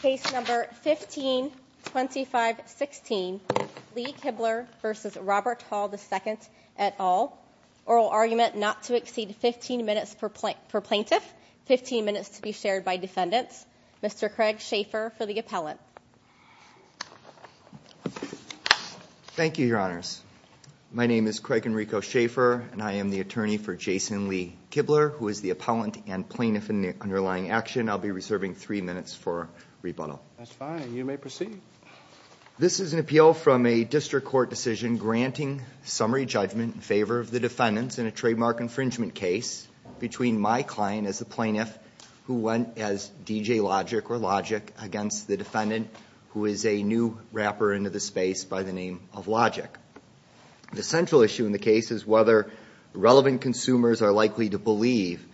Case number 152516 Lee Kibler v. Robert Hall II et al. Oral argument not to exceed 15 minutes per plaintiff, 15 minutes to be shared by defendants. Mr. Craig Schaefer for the appellant. Thank you, Your Honors. My name is Craig Enrico Schaefer, and I am the attorney for Jason Lee Kibler, who is the appellant and plaintiff in the underlying action. I'll be reserving three minutes for rebuttal. That's fine. You may proceed. This is an appeal from a district court decision granting summary judgment in favor of the defendants in a trademark infringement case between my client as the plaintiff who went as DJ Logic or Logic against the defendant who is a new rapper into the space by the name of Logic. The central issue in the case is whether relevant consumers are likely to believe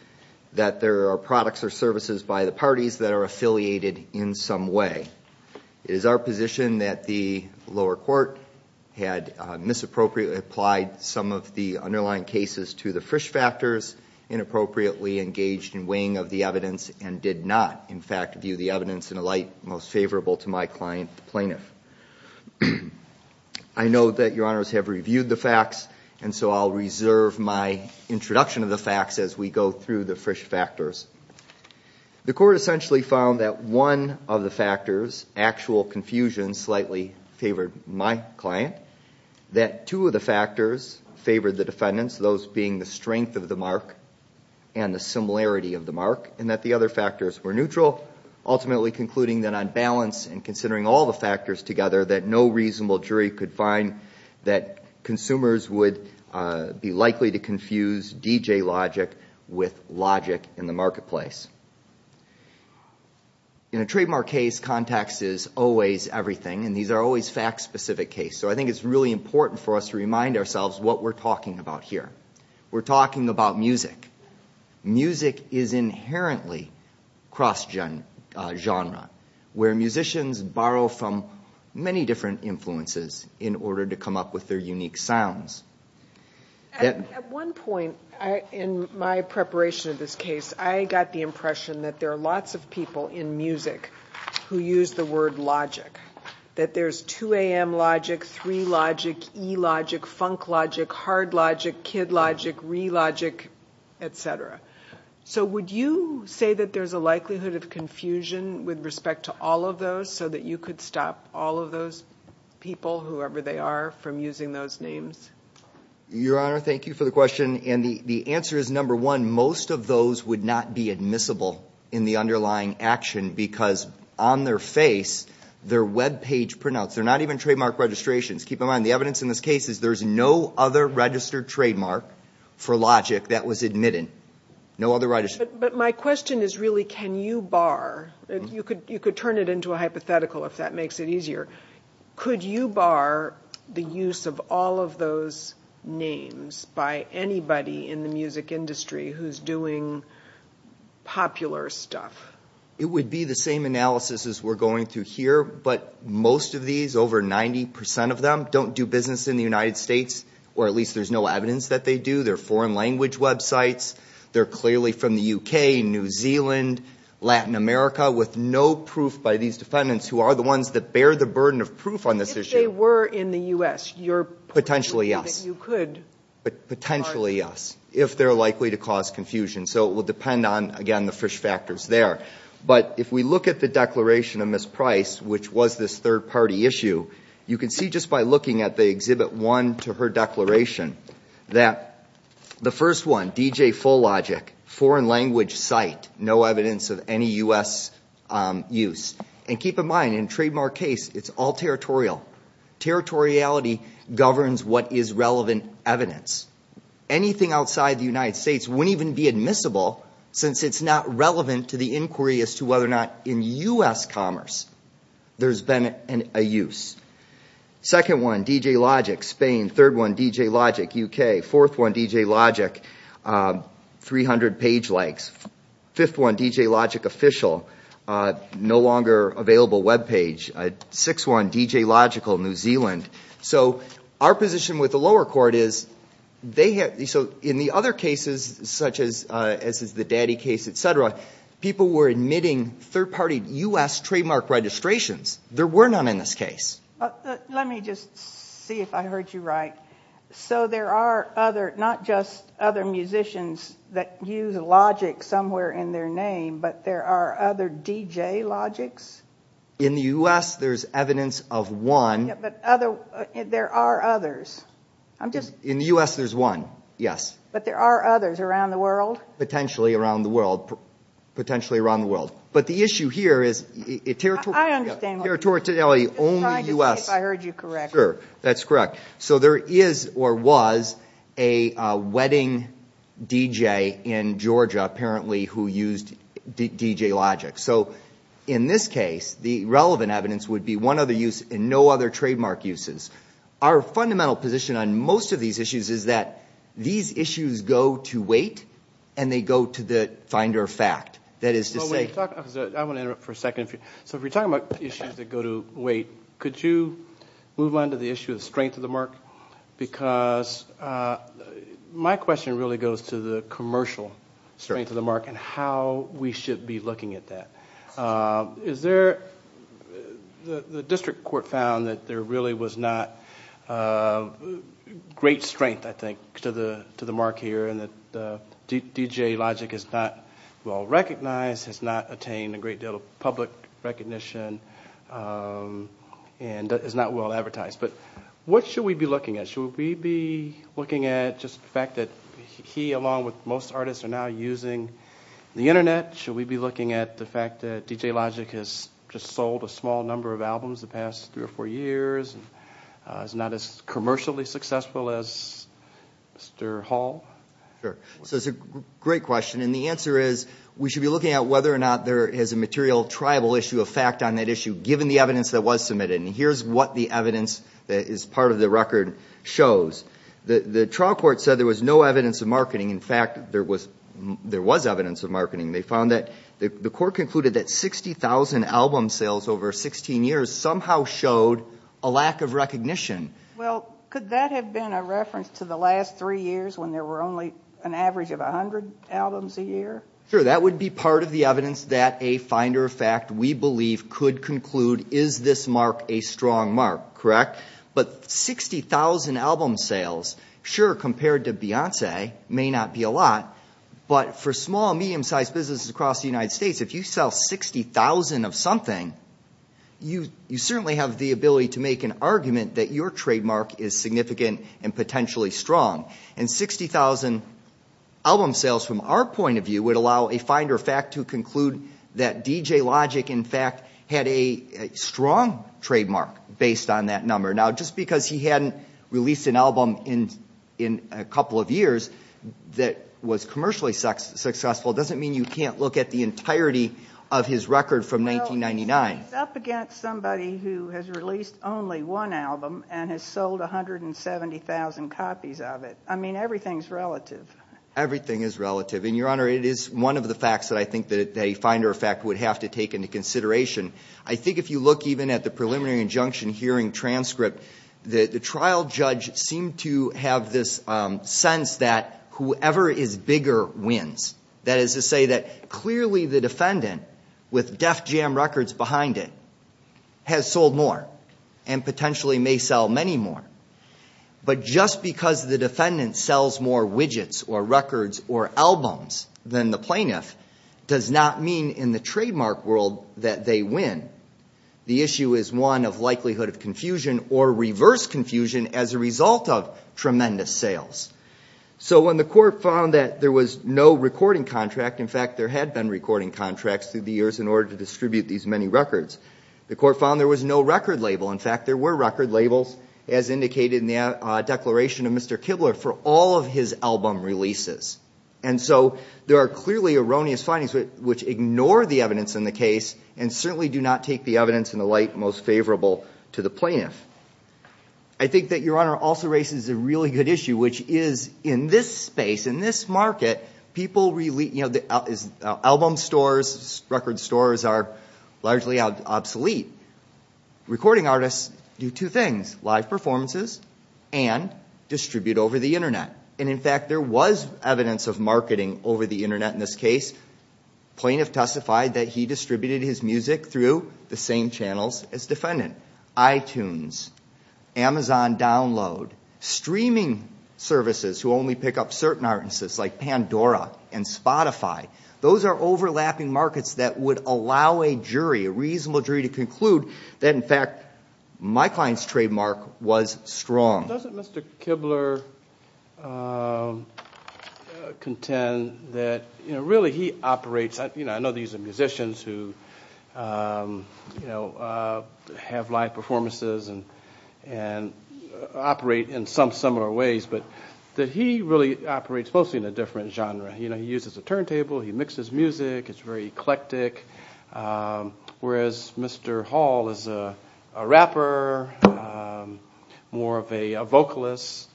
that there are products or services by the parties that are affiliated in some way. It is our position that the lower court had misappropriately applied some of the underlying cases to the Frisch factors, inappropriately engaged in weighing of the evidence, and did not, in fact, view the evidence in a light most favorable to my client, the plaintiff. I know that Your Honors have reviewed the facts, and so I'll reserve my introduction of the facts as we go through the Frisch factors. The court essentially found that one of the factors, actual confusion, slightly favored my client, that two of the factors favored the defendants, those being the strength of the mark and the similarity of the mark, and that the other factors were neutral, ultimately concluding that on balance and considering all the factors together that no reasonable jury could find that consumers would be likely to confuse DJ Logic with Logic in the marketplace. In a trademark case, context is always everything, and these are always fact-specific cases, so I think it's really important for us to remind ourselves what we're talking about here. We're talking about music. Music is inherently cross-genre, where musicians borrow from many different influences in order to come up with their unique sounds. At one point in my preparation of this case, I got the impression that there are lots of people in music who use the word logic, that there's 2AM Logic, 3 Logic, E Logic, Funk Logic, Hard Logic, Kid Logic, Re Logic, etc. So would you say that there's a likelihood of confusion with respect to all of those, so that you could stop all of those people, whoever they are, from using those names? Your Honor, thank you for the question, and the answer is, number one, most of those would not be admissible in the underlying action because on their face, their web page printouts, they're not even trademark registrations. Keep in mind, the evidence in this case is there's no other registered trademark for logic that was admitted. But my question is really, can you bar, you could turn it into a hypothetical if that makes it easier, could you bar the use of all of those names by anybody in the music industry who's doing popular stuff? It would be the same analysis as we're going through here, but most of these, over 90% of them, don't do business in the United States, or at least there's no evidence that they do. They're foreign language websites, they're clearly from the UK, New Zealand, Latin America, with no proof by these defendants who are the ones that bear the burden of proof on this issue. If they were in the U.S., you're... Potentially, yes. You could... Potentially, yes, if they're likely to cause confusion. So it would depend on, again, the fish factors there. But if we look at the declaration of Ms. Price, which was this third-party issue, you can see just by looking at the Exhibit 1 to her declaration that the first one, DJ Full Logic, foreign language site, no evidence of any U.S. use. And keep in mind, in a trademark case, it's all territorial. Territoriality governs what is relevant evidence. Anything outside the United States wouldn't even be admissible since it's not relevant to the inquiry as to whether or not, in U.S. commerce, there's been a use. Second one, DJ Logic, Spain. Third one, DJ Logic, UK. Fourth one, DJ Logic, 300 page likes. Fifth one, DJ Logic official, no longer available webpage. Sixth one, DJ Logical, New Zealand. So our position with the lower court is they have... Let me just see if I heard you right. So there are other, not just other musicians that use Logic somewhere in their name, but there are other DJ Logics? In the U.S., there's evidence of one. But other, there are others. I'm just... In the U.S., there's one, yes. But there are others around the world? Potentially around the world. Potentially around the world. But the issue here is... I understand. I'm just trying to see if I heard you correct. Sure, that's correct. So there is or was a wedding DJ in Georgia, apparently, who used DJ Logic. So in this case, the relevant evidence would be one other use and no other trademark uses. Our fundamental position on most of these issues is that these issues go to weight and they go to the finder of fact. That is to say... I want to interrupt for a second. So if we're talking about issues that go to weight, could you move on to the issue of strength of the mark? Because my question really goes to the commercial strength of the mark and how we should be looking at that. Is there... The district court found that there really was not great strength, I think, to the mark here. And that DJ Logic is not well recognized, has not attained a great deal of public recognition, and is not well advertised. But what should we be looking at? Should we be looking at just the fact that he, along with most artists, are now using the Internet? Should we be looking at the fact that DJ Logic has just sold a small number of albums the past three or four years? And is not as commercially successful as Mr. Hall? Sure. So it's a great question. And the answer is we should be looking at whether or not there is a material tribal issue of fact on that issue, given the evidence that was submitted. And here's what the evidence that is part of the record shows. The trial court said there was no evidence of marketing. In fact, there was evidence of marketing. They found that the court concluded that 60,000 album sales over 16 years somehow showed a lack of recognition. Well, could that have been a reference to the last three years when there were only an average of 100 albums a year? Sure. That would be part of the evidence that a finder of fact, we believe, could conclude, is this mark a strong mark, correct? But 60,000 album sales, sure, compared to Beyonce, may not be a lot. But for small, medium-sized businesses across the United States, if you sell 60,000 of something, you certainly have the ability to make an argument that your trademark is significant and potentially strong. And 60,000 album sales from our point of view would allow a finder of fact to conclude that DJ Logic, in fact, had a strong trademark based on that number. Now, just because he hadn't released an album in a couple of years that was commercially successful doesn't mean you can't look at the entirety of his record from 1999. Well, he's up against somebody who has released only one album and has sold 170,000 copies of it. I mean, everything's relative. Everything is relative. And, Your Honor, it is one of the facts that I think that a finder of fact would have to take into consideration. I think if you look even at the preliminary injunction hearing transcript, the trial judge seemed to have this sense that whoever is bigger wins. That is to say that clearly the defendant, with Def Jam Records behind it, has sold more and potentially may sell many more. But just because the defendant sells more widgets or records or albums than the plaintiff does not mean in the trademark world that they win. The issue is one of likelihood of confusion or reverse confusion as a result of tremendous sales. So when the court found that there was no recording contract, in fact, there had been recording contracts through the years in order to distribute these many records, the court found there was no record label. In fact, there were record labels as indicated in the declaration of Mr. Kibler for all of his album releases. And so there are clearly erroneous findings which ignore the evidence in the case and certainly do not take the evidence in the light most favorable to the plaintiff. I think that, Your Honor, also raises a really good issue, which is in this space, in this market, people really, you know, album stores, record stores are largely obsolete. Recording artists do two things, live performances and distribute over the Internet. And, in fact, there was evidence of marketing over the Internet in this case. The plaintiff testified that he distributed his music through the same channels as the defendant, iTunes, Amazon download, streaming services who only pick up certain artists like Pandora and Spotify. Those are overlapping markets that would allow a jury, a reasonable jury, to conclude that, in fact, my client's trademark was strong. Doesn't Mr. Kibler contend that, you know, really he operates, you know, I know these are musicians who, you know, have live performances and operate in some similar ways, but that he really operates mostly in a different genre. You know, he uses a turntable. He mixes music. It's very eclectic. Whereas Mr. Hall is a rapper, more of a vocalist.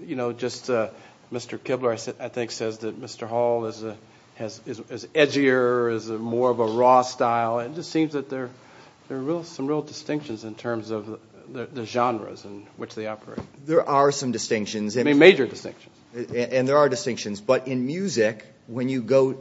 You know, just Mr. Kibler, I think, says that Mr. Hall is edgier, is more of a raw style. It just seems that there are some real distinctions in terms of the genres in which they operate. There are some distinctions. I mean, major distinctions. And there are distinctions. But in music, when you go,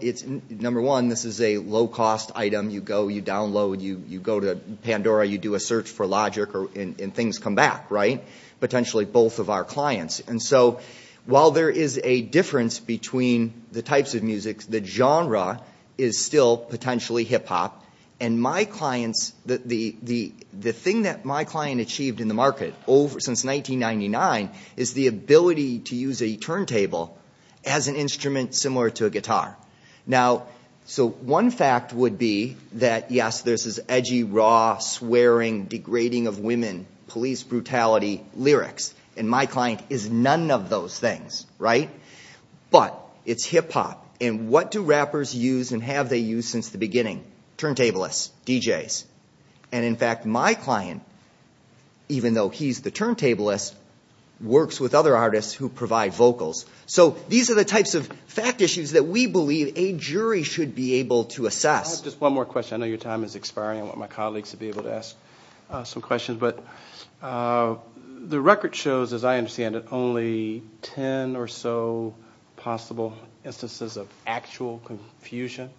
number one, this is a low-cost item. You go, you download, you go to Pandora, you do a search for Logic, and things come back, right? Potentially both of our clients. And so while there is a difference between the types of music, the genre is still potentially hip-hop. And my clients, the thing that my client achieved in the market since 1999 is the ability to use a turntable as an instrument similar to a guitar. Now, so one fact would be that, yes, there's this edgy, raw, swearing, degrading of women, police brutality lyrics. And my client is none of those things, right? But it's hip-hop. And what do rappers use and have they used since the beginning? Turntablists, DJs. And, in fact, my client, even though he's the turntablist, works with other artists who provide vocals. So these are the types of fact issues that we believe a jury should be able to assess. I have just one more question. I know your time is expiring. I want my colleagues to be able to ask some questions. But the record shows, as I understand it, only 10 or so possible instances of actual confusion.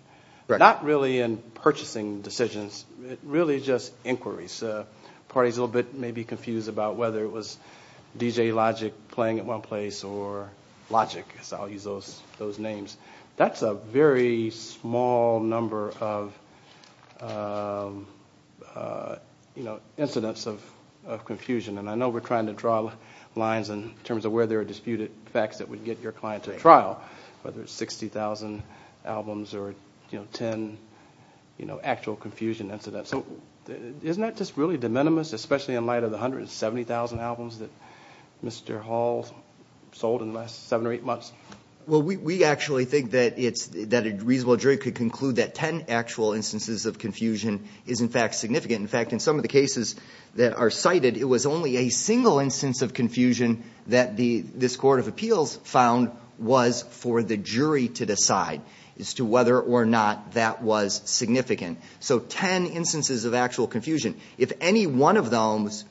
Not really in purchasing decisions, really just inquiries. Parties a little bit maybe confused about whether it was DJ Logic playing at one place or Logic, as I'll use those names. That's a very small number of incidents of confusion. And I know we're trying to draw lines in terms of where there are disputed facts that would get your client to trial, whether it's 60,000 albums or 10 actual confusion incidents. So isn't that just really de minimis, especially in light of the 170,000 albums that Mr. Hall sold in the last seven or eight months? Well, we actually think that a reasonable jury could conclude that 10 actual instances of confusion is, in fact, significant. In fact, in some of the cases that are cited, it was only a single instance of confusion that this court of appeals found was for the jury to decide as to whether or not that was significant. So 10 instances of actual confusion. If any one of those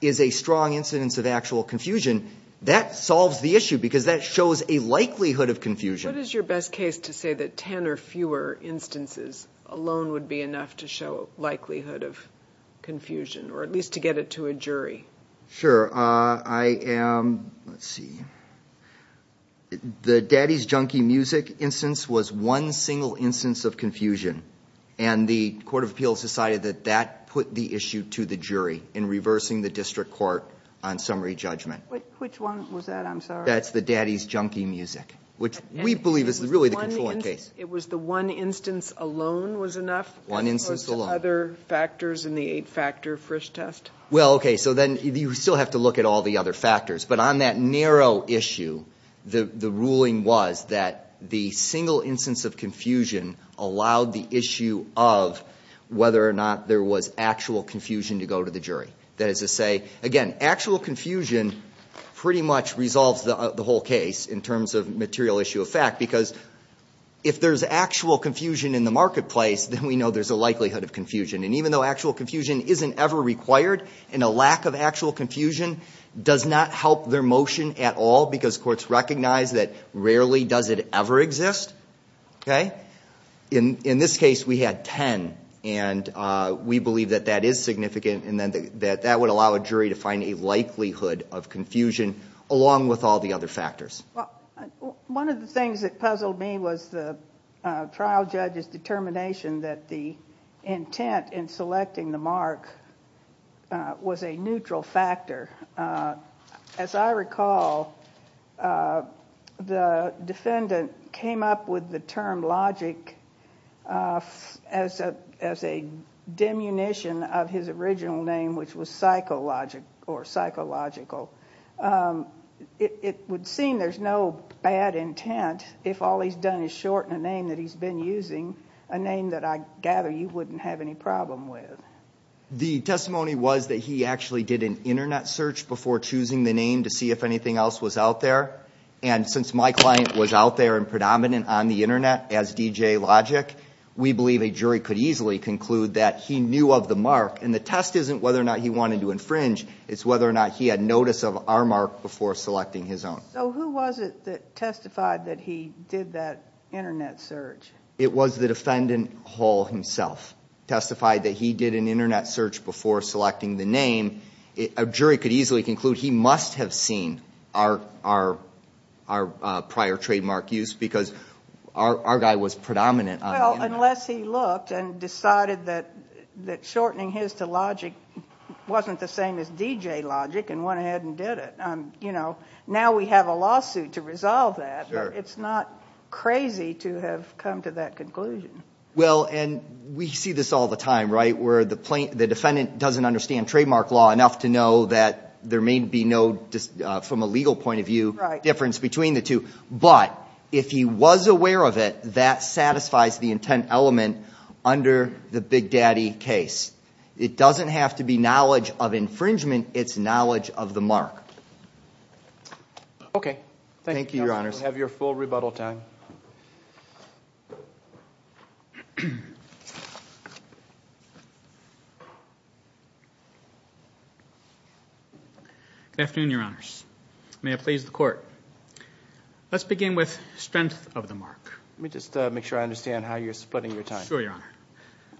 is a strong incidence of actual confusion, that solves the issue because that shows a likelihood of confusion. What is your best case to say that 10 or fewer instances alone would be enough to show likelihood of confusion, or at least to get it to a jury? Sure. Let's see. The Daddy's Junkie Music instance was one single instance of confusion. And the court of appeals decided that that put the issue to the jury in reversing the district court on summary judgment. Which one was that? I'm sorry. That's the Daddy's Junkie Music, which we believe is really the controlling case. It was the one instance alone was enough? One instance alone. As opposed to other factors in the eight-factor Frisch test? Well, okay, so then you still have to look at all the other factors. But on that narrow issue, the ruling was that the single instance of confusion allowed the issue of whether or not there was actual confusion to go to the jury. That is to say, again, actual confusion pretty much resolves the whole case in terms of material issue of fact. Because if there's actual confusion in the marketplace, then we know there's a likelihood of confusion. And even though actual confusion isn't ever required, and a lack of actual confusion does not help their motion at all because courts recognize that rarely does it ever exist. In this case, we had 10, and we believe that that is significant and that that would allow a jury to find a likelihood of confusion along with all the other factors. One of the things that puzzled me was the trial judge's determination that the intent in selecting the mark was a neutral factor. As I recall, the defendant came up with the term logic as a diminution of his original name, which was psychological. It would seem there's no bad intent if all he's done is shorten a name that he's been using, a name that I gather you wouldn't have any problem with. The testimony was that he actually did an internet search before choosing the name to see if anything else was out there. And since my client was out there and predominant on the internet as DJ Logic, we believe a jury could easily conclude that he knew of the mark. And the test isn't whether or not he wanted to infringe, it's whether or not he had notice of our mark before selecting his own. So who was it that testified that he did that internet search? It was the defendant Hall himself, testified that he did an internet search before selecting the name. A jury could easily conclude he must have seen our prior trademark use because our guy was predominant on the internet. Well, unless he looked and decided that shortening his to Logic wasn't the same as DJ Logic and went ahead and did it. Now we have a lawsuit to resolve that, but it's not crazy to have come to that conclusion. Well, and we see this all the time, right? Where the defendant doesn't understand trademark law enough to know that there may be no, from a legal point of view, difference between the two. But if he was aware of it, that satisfies the intent element under the Big Daddy case. It doesn't have to be knowledge of infringement, it's knowledge of the mark. Okay. Thank you, Your Honors. Have your full rebuttal time. Good afternoon, Your Honors. May it please the Court. Let's begin with strength of the mark. Let me just make sure I understand how you're splitting your time. Sure, Your Honor.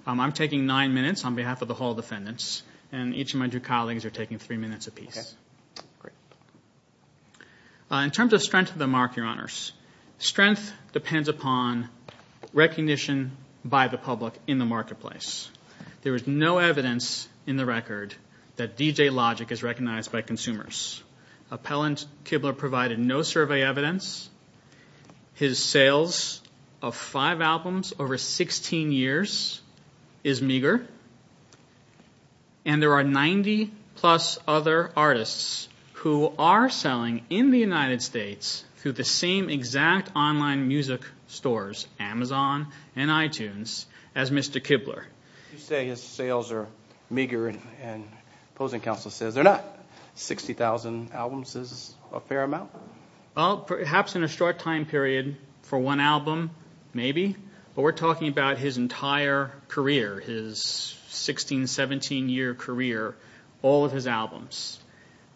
I'm taking nine minutes on behalf of the whole defendants, and each of my two colleagues are taking three minutes apiece. Okay, great. In terms of strength of the mark, Your Honors, strength depends upon recognition by the public in the marketplace. There is no evidence in the record that DJ Logic is recognized by consumers. Appellant Kibler provided no survey evidence. His sales of five albums over 16 years is meager, and there are 90-plus other artists who are selling in the United States through the same exact online music stores, Amazon and iTunes, as Mr. Kibler. You say his sales are meager, and opposing counsel says they're not. 60,000 albums is a fair amount? Well, perhaps in a short time period for one album, maybe. But we're talking about his entire career, his 16-, 17-year career, all of his albums.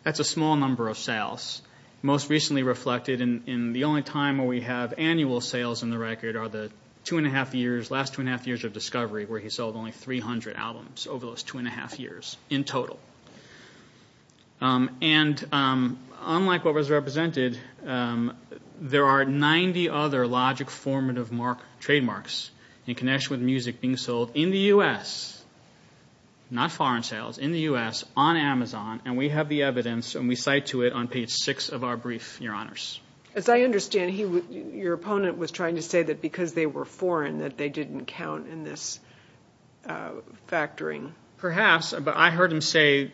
That's a small number of sales. Most recently reflected in the only time where we have annual sales in the record are the two-and-a-half years, last two-and-a-half years of Discovery where he sold only 300 albums over those two-and-a-half years in total. And unlike what was represented, there are 90 other Logic formative trademarks in connection with music being sold in the U.S., not foreign sales, in the U.S., on Amazon, and we have the evidence, and we cite to it on page 6 of our brief, Your Honors. As I understand, your opponent was trying to say that because they were foreign that they didn't count in this factoring. Perhaps, but I heard him say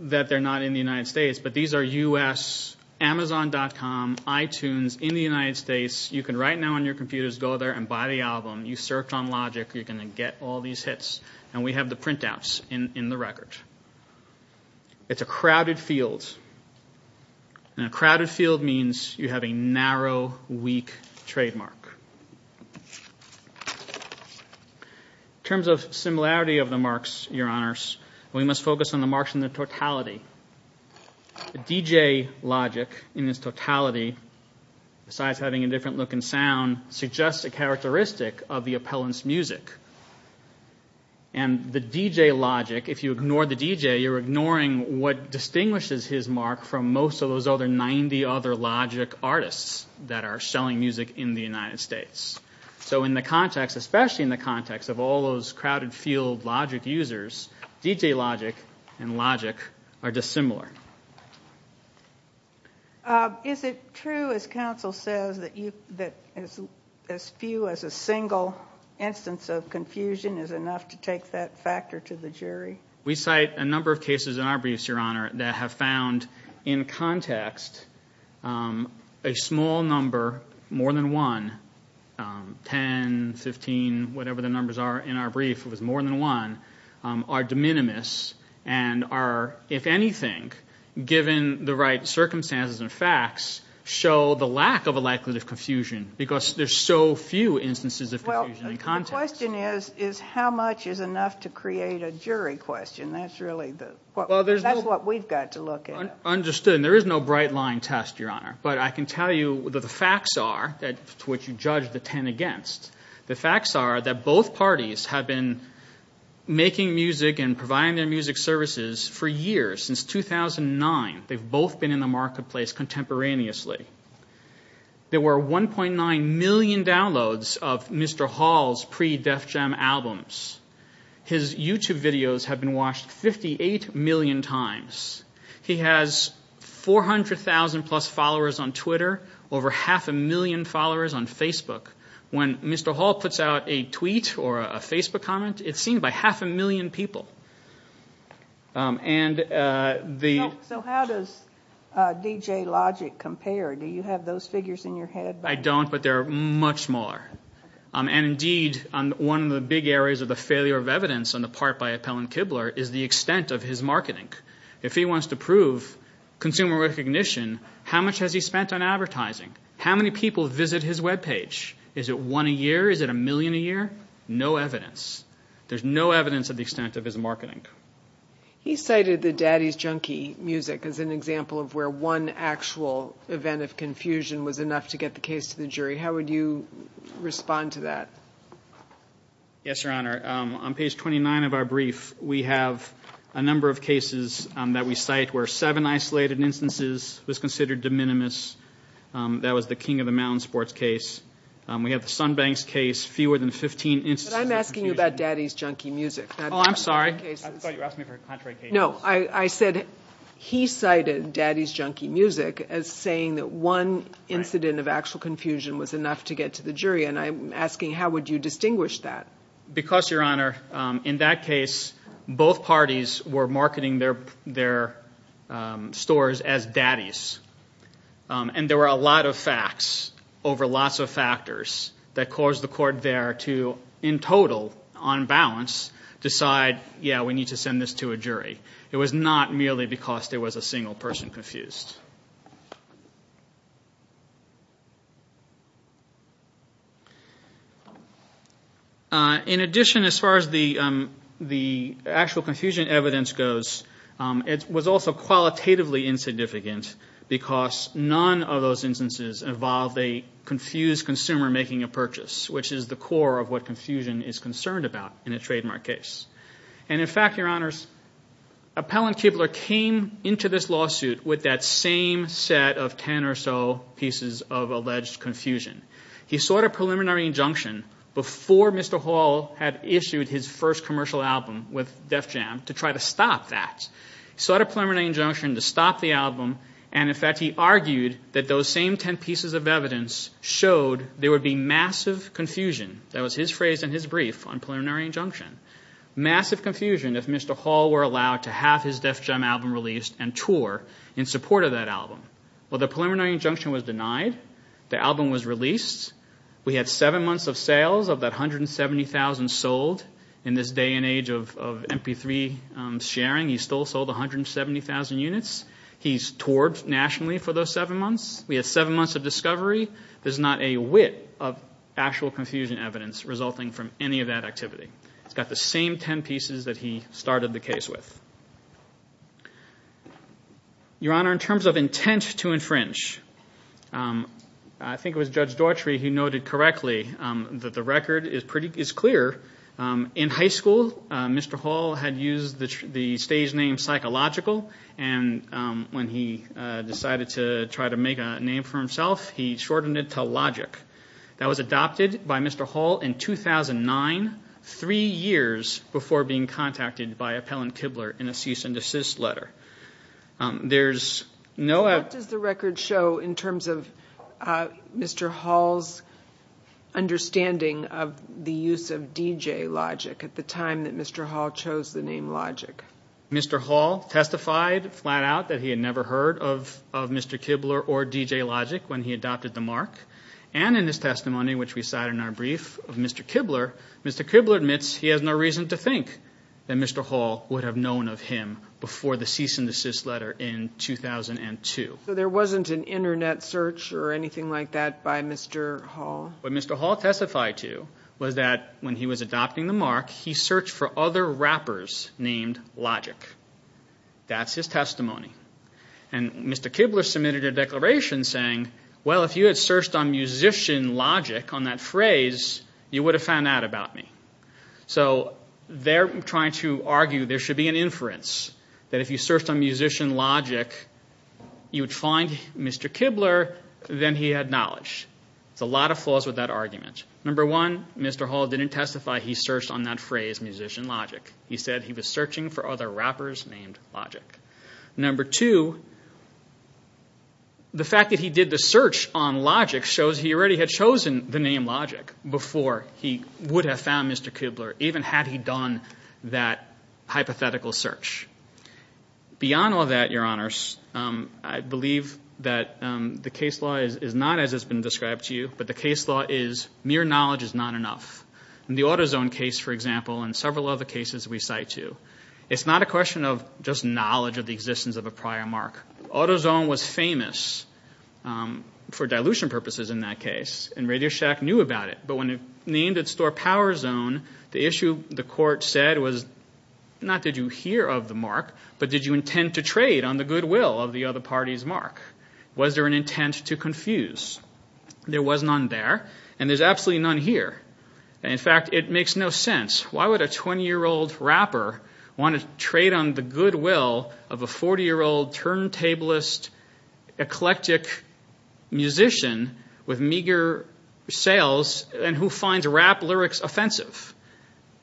that they're not in the United States, but these are U.S., Amazon.com, iTunes, in the United States. You can right now on your computers go there and buy the album. You search on Logic. You're going to get all these hits, and we have the printouts in the record. It's a crowded field, and a crowded field means you have a narrow, weak trademark. In terms of similarity of the marks, Your Honors, we must focus on the marks in their totality. The DJ Logic in its totality, besides having a different look and sound, suggests a characteristic of the appellant's music, and the DJ Logic, if you ignore the DJ, you're ignoring what distinguishes his mark from most of those other 90 other Logic artists that are selling music in the United States. In the context, especially in the context of all those crowded field Logic users, DJ Logic and Logic are dissimilar. Is it true, as counsel says, that as few as a single instance of confusion is enough to take that factor to the jury? We cite a number of cases in our briefs, Your Honor, that have found in context a small number, more than one, 10, 15, whatever the numbers are in our brief, it was more than one, are de minimis and are, if anything, given the right circumstances and facts, show the lack of a likelihood of confusion because there's so few instances of confusion in context. The question is how much is enough to create a jury question. That's really what we've got to look at. Understood, and there is no bright line test, Your Honor, but I can tell you that the facts are, to which you judge the 10 against, the facts are that both parties have been making music and providing their music services for years, since 2009. They've both been in the marketplace contemporaneously. There were 1.9 million downloads of Mr. Hall's pre-Def Jam albums. His YouTube videos have been watched 58 million times. He has 400,000 plus followers on Twitter, over half a million followers on Facebook. When Mr. Hall puts out a tweet or a Facebook comment, it's seen by half a million people. So how does DJ Logic compare? Do you have those figures in your head? I don't, but they're much smaller. Indeed, one of the big areas of the failure of evidence on the part by Appellant Kibler is the extent of his marketing. If he wants to prove consumer recognition, how much has he spent on advertising? How many people visit his webpage? Is it one a year? Is it a million a year? No evidence. There's no evidence of the extent of his marketing. He cited the Daddy's Junkie music as an example of where one actual event of confusion was enough to get the case to the jury. How would you respond to that? Yes, Your Honor. On page 29 of our brief, we have a number of cases that we cite where seven isolated instances was considered de minimis. That was the King of the Mountain sports case. We have the Sunbanks case, fewer than 15 instances of confusion. But I'm asking you about Daddy's Junkie music. Oh, I'm sorry. I thought you were asking me for contrary cases. No, I said he cited Daddy's Junkie music as saying that one incident of actual confusion was enough to get to the jury. And I'm asking how would you distinguish that? Because, Your Honor, in that case, both parties were marketing their stores as Daddy's. And there were a lot of facts over lots of factors that caused the court there to, in total, on balance, decide, yeah, we need to send this to a jury. It was not merely because there was a single person confused. In addition, as far as the actual confusion evidence goes, it was also qualitatively insignificant because none of those instances involved a confused consumer making a purchase, which is the core of what confusion is concerned about in a trademark case. And, in fact, Your Honors, Appellant Kibler came into this lawsuit with that simple, the same set of ten or so pieces of alleged confusion. He sought a preliminary injunction before Mr. Hall had issued his first commercial album with Def Jam to try to stop that. He sought a preliminary injunction to stop the album. And, in fact, he argued that those same ten pieces of evidence showed there would be massive confusion, that was his phrase in his brief on preliminary injunction, massive confusion if Mr. Hall were allowed to have his Def Jam album released and tour in support of that album. Well, the preliminary injunction was denied. The album was released. We had seven months of sales of that 170,000 sold. In this day and age of MP3 sharing, he still sold 170,000 units. He's toured nationally for those seven months. We had seven months of discovery. There's not a whit of actual confusion evidence resulting from any of that activity. It's got the same ten pieces that he started the case with. Your Honor, in terms of intent to infringe, I think it was Judge Daughtry who noted correctly that the record is clear. In high school, Mr. Hall had used the stage name Psychological, and when he decided to try to make a name for himself, he shortened it to Logic. That was adopted by Mr. Hall in 2009, three years before being contacted by Appellant Kibler in a cease and desist letter. There's no- What does the record show in terms of Mr. Hall's understanding of the use of DJ Logic at the time that Mr. Hall chose the name Logic? Mr. Hall testified flat out that he had never heard of Mr. Kibler or DJ Logic when he adopted the mark, and in his testimony, which we cite in our brief of Mr. Kibler, Mr. Kibler admits he has no reason to think that Mr. Hall would have known of him before the cease and desist letter in 2002. So there wasn't an Internet search or anything like that by Mr. Hall? What Mr. Hall testified to was that when he was adopting the mark, he searched for other rappers named Logic. That's his testimony, and Mr. Kibler submitted a declaration saying, well, if you had searched on musician Logic on that phrase, you would have found out about me. So they're trying to argue there should be an inference that if you searched on musician Logic, you would find Mr. Kibler, then he had knowledge. There's a lot of flaws with that argument. Number one, Mr. Hall didn't testify he searched on that phrase, musician Logic. He said he was searching for other rappers named Logic. Number two, the fact that he did the search on Logic shows he already had chosen the name Logic before he would have found Mr. Kibler, even had he done that hypothetical search. Beyond all that, Your Honors, I believe that the case law is not as it's been described to you, but the case law is mere knowledge is not enough. In the AutoZone case, for example, and several other cases we cite you, it's not a question of just knowledge of the existence of a prior mark. AutoZone was famous for dilution purposes in that case, and RadioShack knew about it. But when it named its store PowerZone, the issue the court said was not did you hear of the mark, but did you intend to trade on the goodwill of the other party's mark? Was there an intent to confuse? There was none there, and there's absolutely none here. In fact, it makes no sense. Why would a 20-year-old rapper want to trade on the goodwill of a 40-year-old turntablist, eclectic musician with meager sales, and who finds rap lyrics offensive?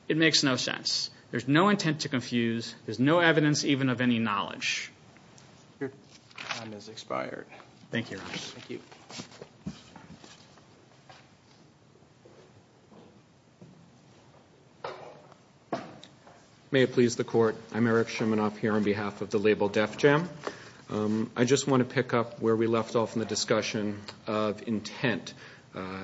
It makes no sense. There's no intent to confuse. There's no evidence even of any knowledge. Your time has expired. Thank you, Your Honors. Thank you. May it please the Court. I'm Eric Shimanoff here on behalf of the label Def Jam. I just want to pick up where we left off in the discussion of intent.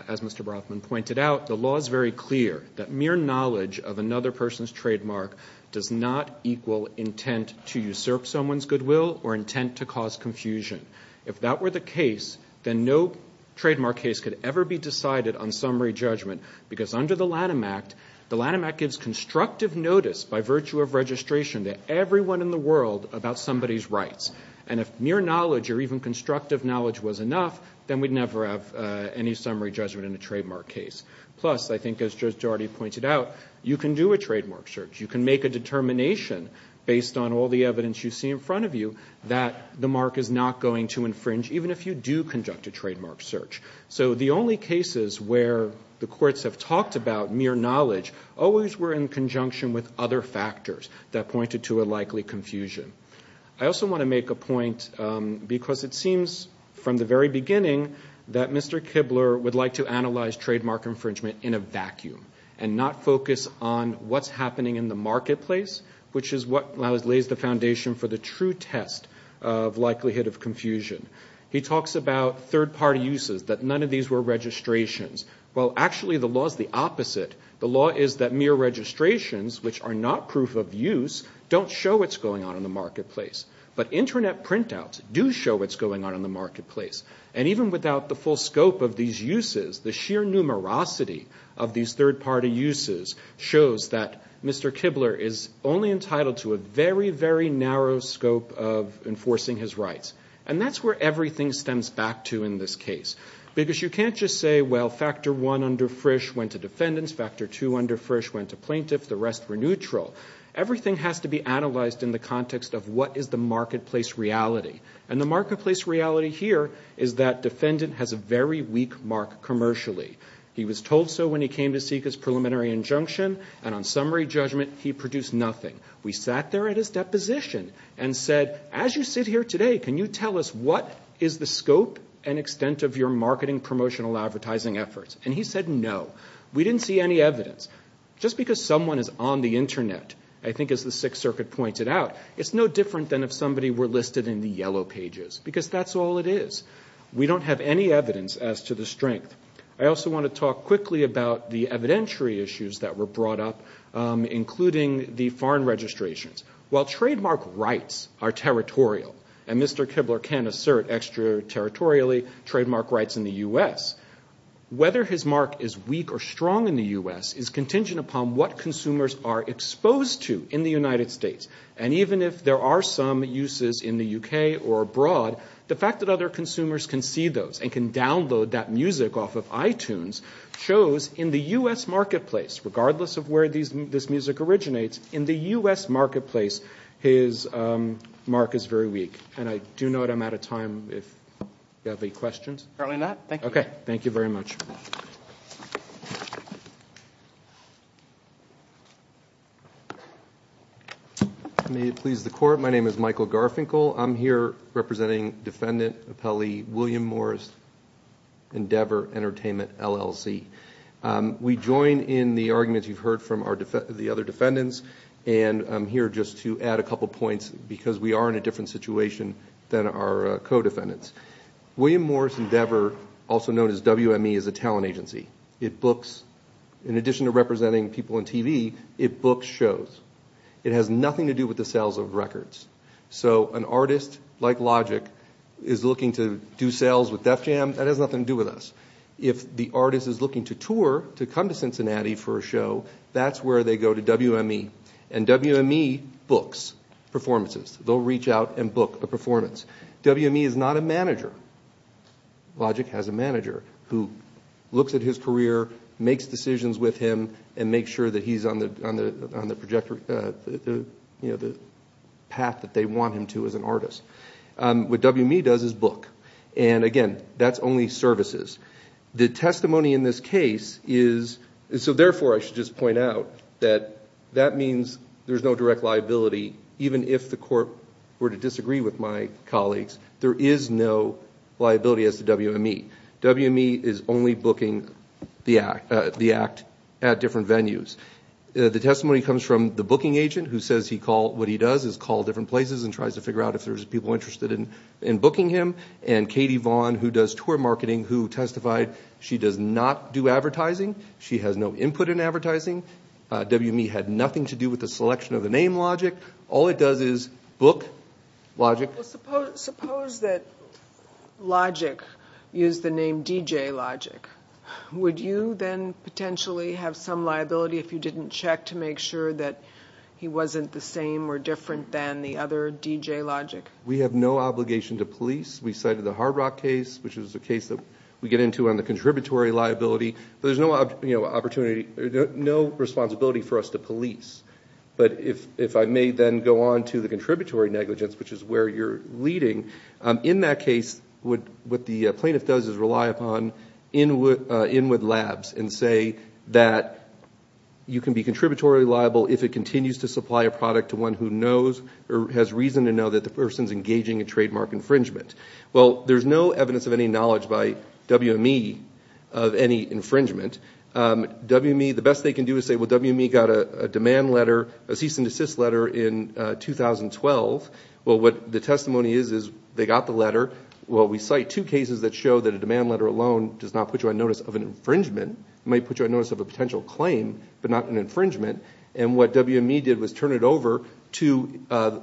As Mr. Brothman pointed out, the law is very clear that mere knowledge of another person's trademark does not equal intent to usurp someone's goodwill or intent to cause confusion. If that were the case, then no trademark case could ever be decided on summary judgment because under the Lanham Act, the Lanham Act gives constructive notice by virtue of registration to everyone in the world about somebody's rights. And if mere knowledge or even constructive knowledge was enough, then we'd never have any summary judgment in a trademark case. Plus, I think as Judge Daugherty pointed out, you can do a trademark search. You can make a determination based on all the evidence you see in front of you that the mark is not going to infringe even if you do conduct a trademark search. So the only cases where the courts have talked about mere knowledge always were in conjunction with other factors that pointed to a likely confusion. I also want to make a point because it seems from the very beginning that Mr. Kibler would like to analyze trademark infringement in a vacuum and not focus on what's happening in the marketplace, which is what lays the foundation for the true test of likelihood of confusion. He talks about third-party uses, that none of these were registrations. Well, actually the law is the opposite. The law is that mere registrations, which are not proof of use, don't show what's going on in the marketplace. But Internet printouts do show what's going on in the marketplace. And even without the full scope of these uses, the sheer numerosity of these third-party uses shows that Mr. Kibler is only entitled to a very, very narrow scope of enforcing his rights. And that's where everything stems back to in this case. Because you can't just say, well, factor one under Frisch went to defendants, factor two under Frisch went to plaintiffs, the rest were neutral. Everything has to be analyzed in the context of what is the marketplace reality. And the marketplace reality here is that defendant has a very weak mark commercially. He was told so when he came to seek his preliminary injunction, and on summary judgment he produced nothing. We sat there at his deposition and said, as you sit here today, can you tell us what is the scope and extent of your marketing promotional advertising efforts? And he said no. We didn't see any evidence. Just because someone is on the Internet, I think as the Sixth Circuit pointed out, it's no different than if somebody were listed in the yellow pages, because that's all it is. We don't have any evidence as to the strength. I also want to talk quickly about the evidentiary issues that were brought up, including the foreign registrations. While trademark rights are territorial, and Mr. Kibler can assert extraterritorially trademark rights in the U.S., whether his mark is weak or strong in the U.S. is contingent upon what consumers are exposed to in the United States. And even if there are some uses in the U.K. or abroad, the fact that other consumers can see those and can download that music off of iTunes shows in the U.S. marketplace, regardless of where this music originates, in the U.S. marketplace, his mark is very weak. And I do note I'm out of time if you have any questions. Apparently not. Thank you. Okay. Thank you very much. May it please the Court, my name is Michael Garfinkel. I'm here representing Defendant Appellee William Morris, Endeavor Entertainment, LLC. We join in the arguments you've heard from the other defendants, and I'm here just to add a couple points because we are in a different situation than our co-defendants. William Morris Endeavor, also known as WME, is a talent agency. It books, in addition to representing people on TV, it books shows. It has nothing to do with the sales of records. So an artist like Logic is looking to do sales with Def Jam, that has nothing to do with us. If the artist is looking to tour, to come to Cincinnati for a show, that's where they go to WME. And WME books performances. They'll reach out and book a performance. WME is not a manager. Logic has a manager who looks at his career, makes decisions with him, and makes sure that he's on the path that they want him to as an artist. What WME does is book. And, again, that's only services. The testimony in this case is so, therefore, I should just point out that that means there's no direct liability. Even if the court were to disagree with my colleagues, there is no liability as to WME. WME is only booking the act at different venues. The testimony comes from the booking agent who says what he does is call different places and tries to figure out if there's people interested in booking him, and Katie Vaughn, who does tour marketing, who testified she does not do advertising. She has no input in advertising. WME had nothing to do with the selection of the name Logic. All it does is book Logic. Suppose that Logic used the name DJ Logic. Would you then potentially have some liability if you didn't check to make sure that he wasn't the same or different than the other DJ Logic? We have no obligation to police. We cited the Hard Rock case, which is a case that we get into on the contributory liability. There's no responsibility for us to police. But if I may then go on to the contributory negligence, which is where you're leading, in that case what the plaintiff does is rely upon inward labs and say that you can be contributory liable if it continues to supply a product to one who has reason to know that the person is engaging in trademark infringement. Well, there's no evidence of any knowledge by WME of any infringement. The best they can do is say, well, WME got a demand letter, a cease and desist letter in 2012. Well, what the testimony is is they got the letter. Well, we cite two cases that show that a demand letter alone does not put you on notice of an infringement. It might put you on notice of a potential claim but not an infringement. And what WME did was turn it over to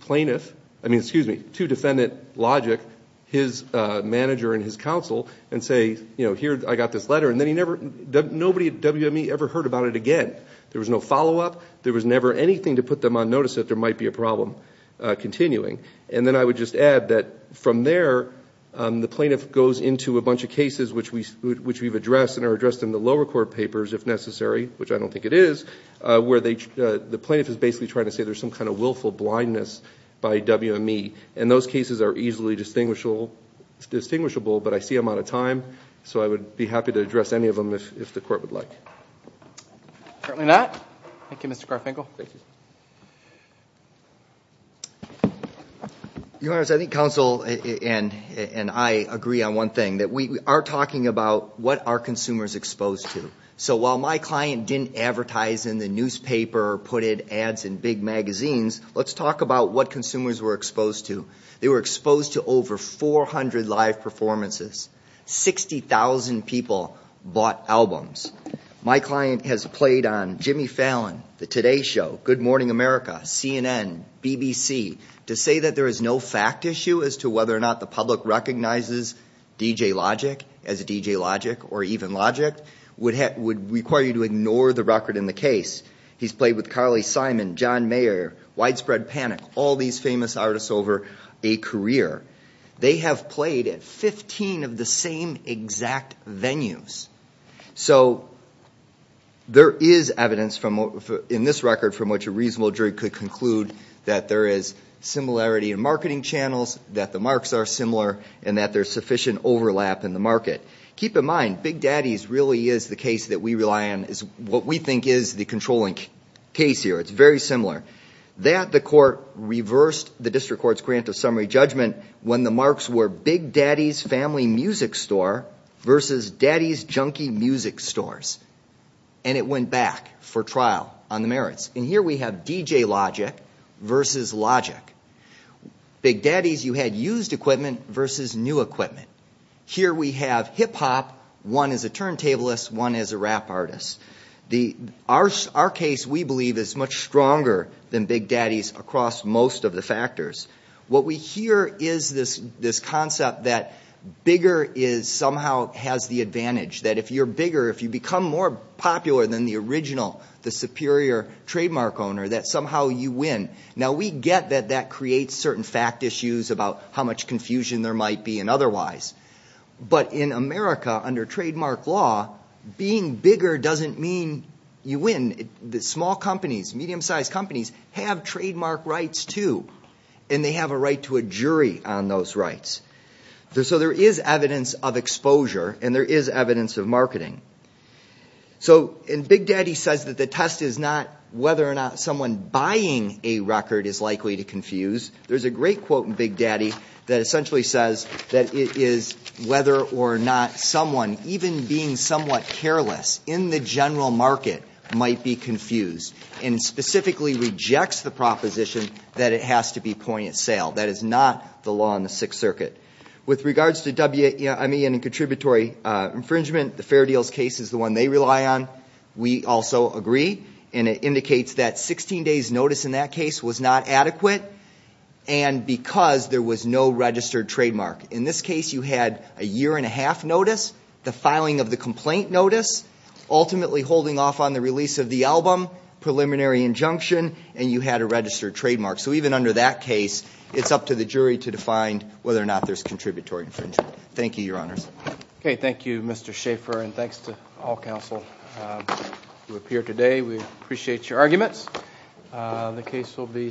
plaintiff, I mean, excuse me, to defendant Logic, his manager and his counsel, and say, you know, here, I got this letter. And nobody at WME ever heard about it again. There was no follow-up. There was never anything to put them on notice that there might be a problem continuing. And then I would just add that from there the plaintiff goes into a bunch of cases which we've addressed and are addressed in the lower court papers if necessary, which I don't think it is, where the plaintiff is basically trying to say there's some kind of willful blindness by WME. And those cases are easily distinguishable, but I see I'm out of time, so I would be happy to address any of them if the court would like. Apparently not. Thank you, Mr. Garfinkel. Thank you. Your Honors, I think counsel and I agree on one thing, that we are talking about what are consumers exposed to. So while my client didn't advertise in the newspaper or put in ads in big magazines, let's talk about what consumers were exposed to. They were exposed to over 400 live performances, 60,000 people bought albums. My client has played on Jimmy Fallon, The Today Show, Good Morning America, CNN, BBC. To say that there is no fact issue as to whether or not the public recognizes DJ Logic as DJ Logic or even Logic would require you to ignore the record in the case. He's played with Carly Simon, John Mayer, Widespread Panic, all these famous artists over a career. They have played at 15 of the same exact venues. So there is evidence in this record from which a reasonable jury could conclude that there is similarity in marketing channels, that the marks are similar, and that there's sufficient overlap in the market. Keep in mind, Big Daddy's really is the case that we rely on, is what we think is the controlling case here. It's very similar. That the court reversed the district court's grant of summary judgment when the marks were Big Daddy's Family Music Store versus Daddy's Junkie Music Stores. And it went back for trial on the merits. And here we have DJ Logic versus Logic. Big Daddy's, you had used equipment versus new equipment. Here we have hip-hop, one is a turntablist, one is a rap artist. Our case, we believe, is much stronger than Big Daddy's across most of the factors. What we hear is this concept that bigger somehow has the advantage, that if you're bigger, if you become more popular than the original, the superior trademark owner, that somehow you win. Now we get that that creates certain fact issues about how much confusion there might be and otherwise. But in America, under trademark law, being bigger doesn't mean you win. Small companies, medium-sized companies, have trademark rights too. And they have a right to a jury on those rights. So there is evidence of exposure and there is evidence of marketing. So Big Daddy says that the test is not whether or not someone buying a record is likely to confuse. There's a great quote in Big Daddy that essentially says that it is whether or not someone, even being somewhat careless in the general market, might be confused and specifically rejects the proposition that it has to be point at sale. That is not the law in the Sixth Circuit. With regards to WME and contributory infringement, the Fair Deals case is the one they rely on. We also agree, and it indicates that 16 days' notice in that case was not adequate and because there was no registered trademark. In this case, you had a year-and-a-half notice, the filing of the complaint notice, ultimately holding off on the release of the album, preliminary injunction, and you had a registered trademark. So even under that case, it's up to the jury to define whether or not there's contributory infringement. Thank you, Your Honors. Okay, thank you, Mr. Schaeffer, and thanks to all counsel who appeared today. We appreciate your arguments. The case will be submitted.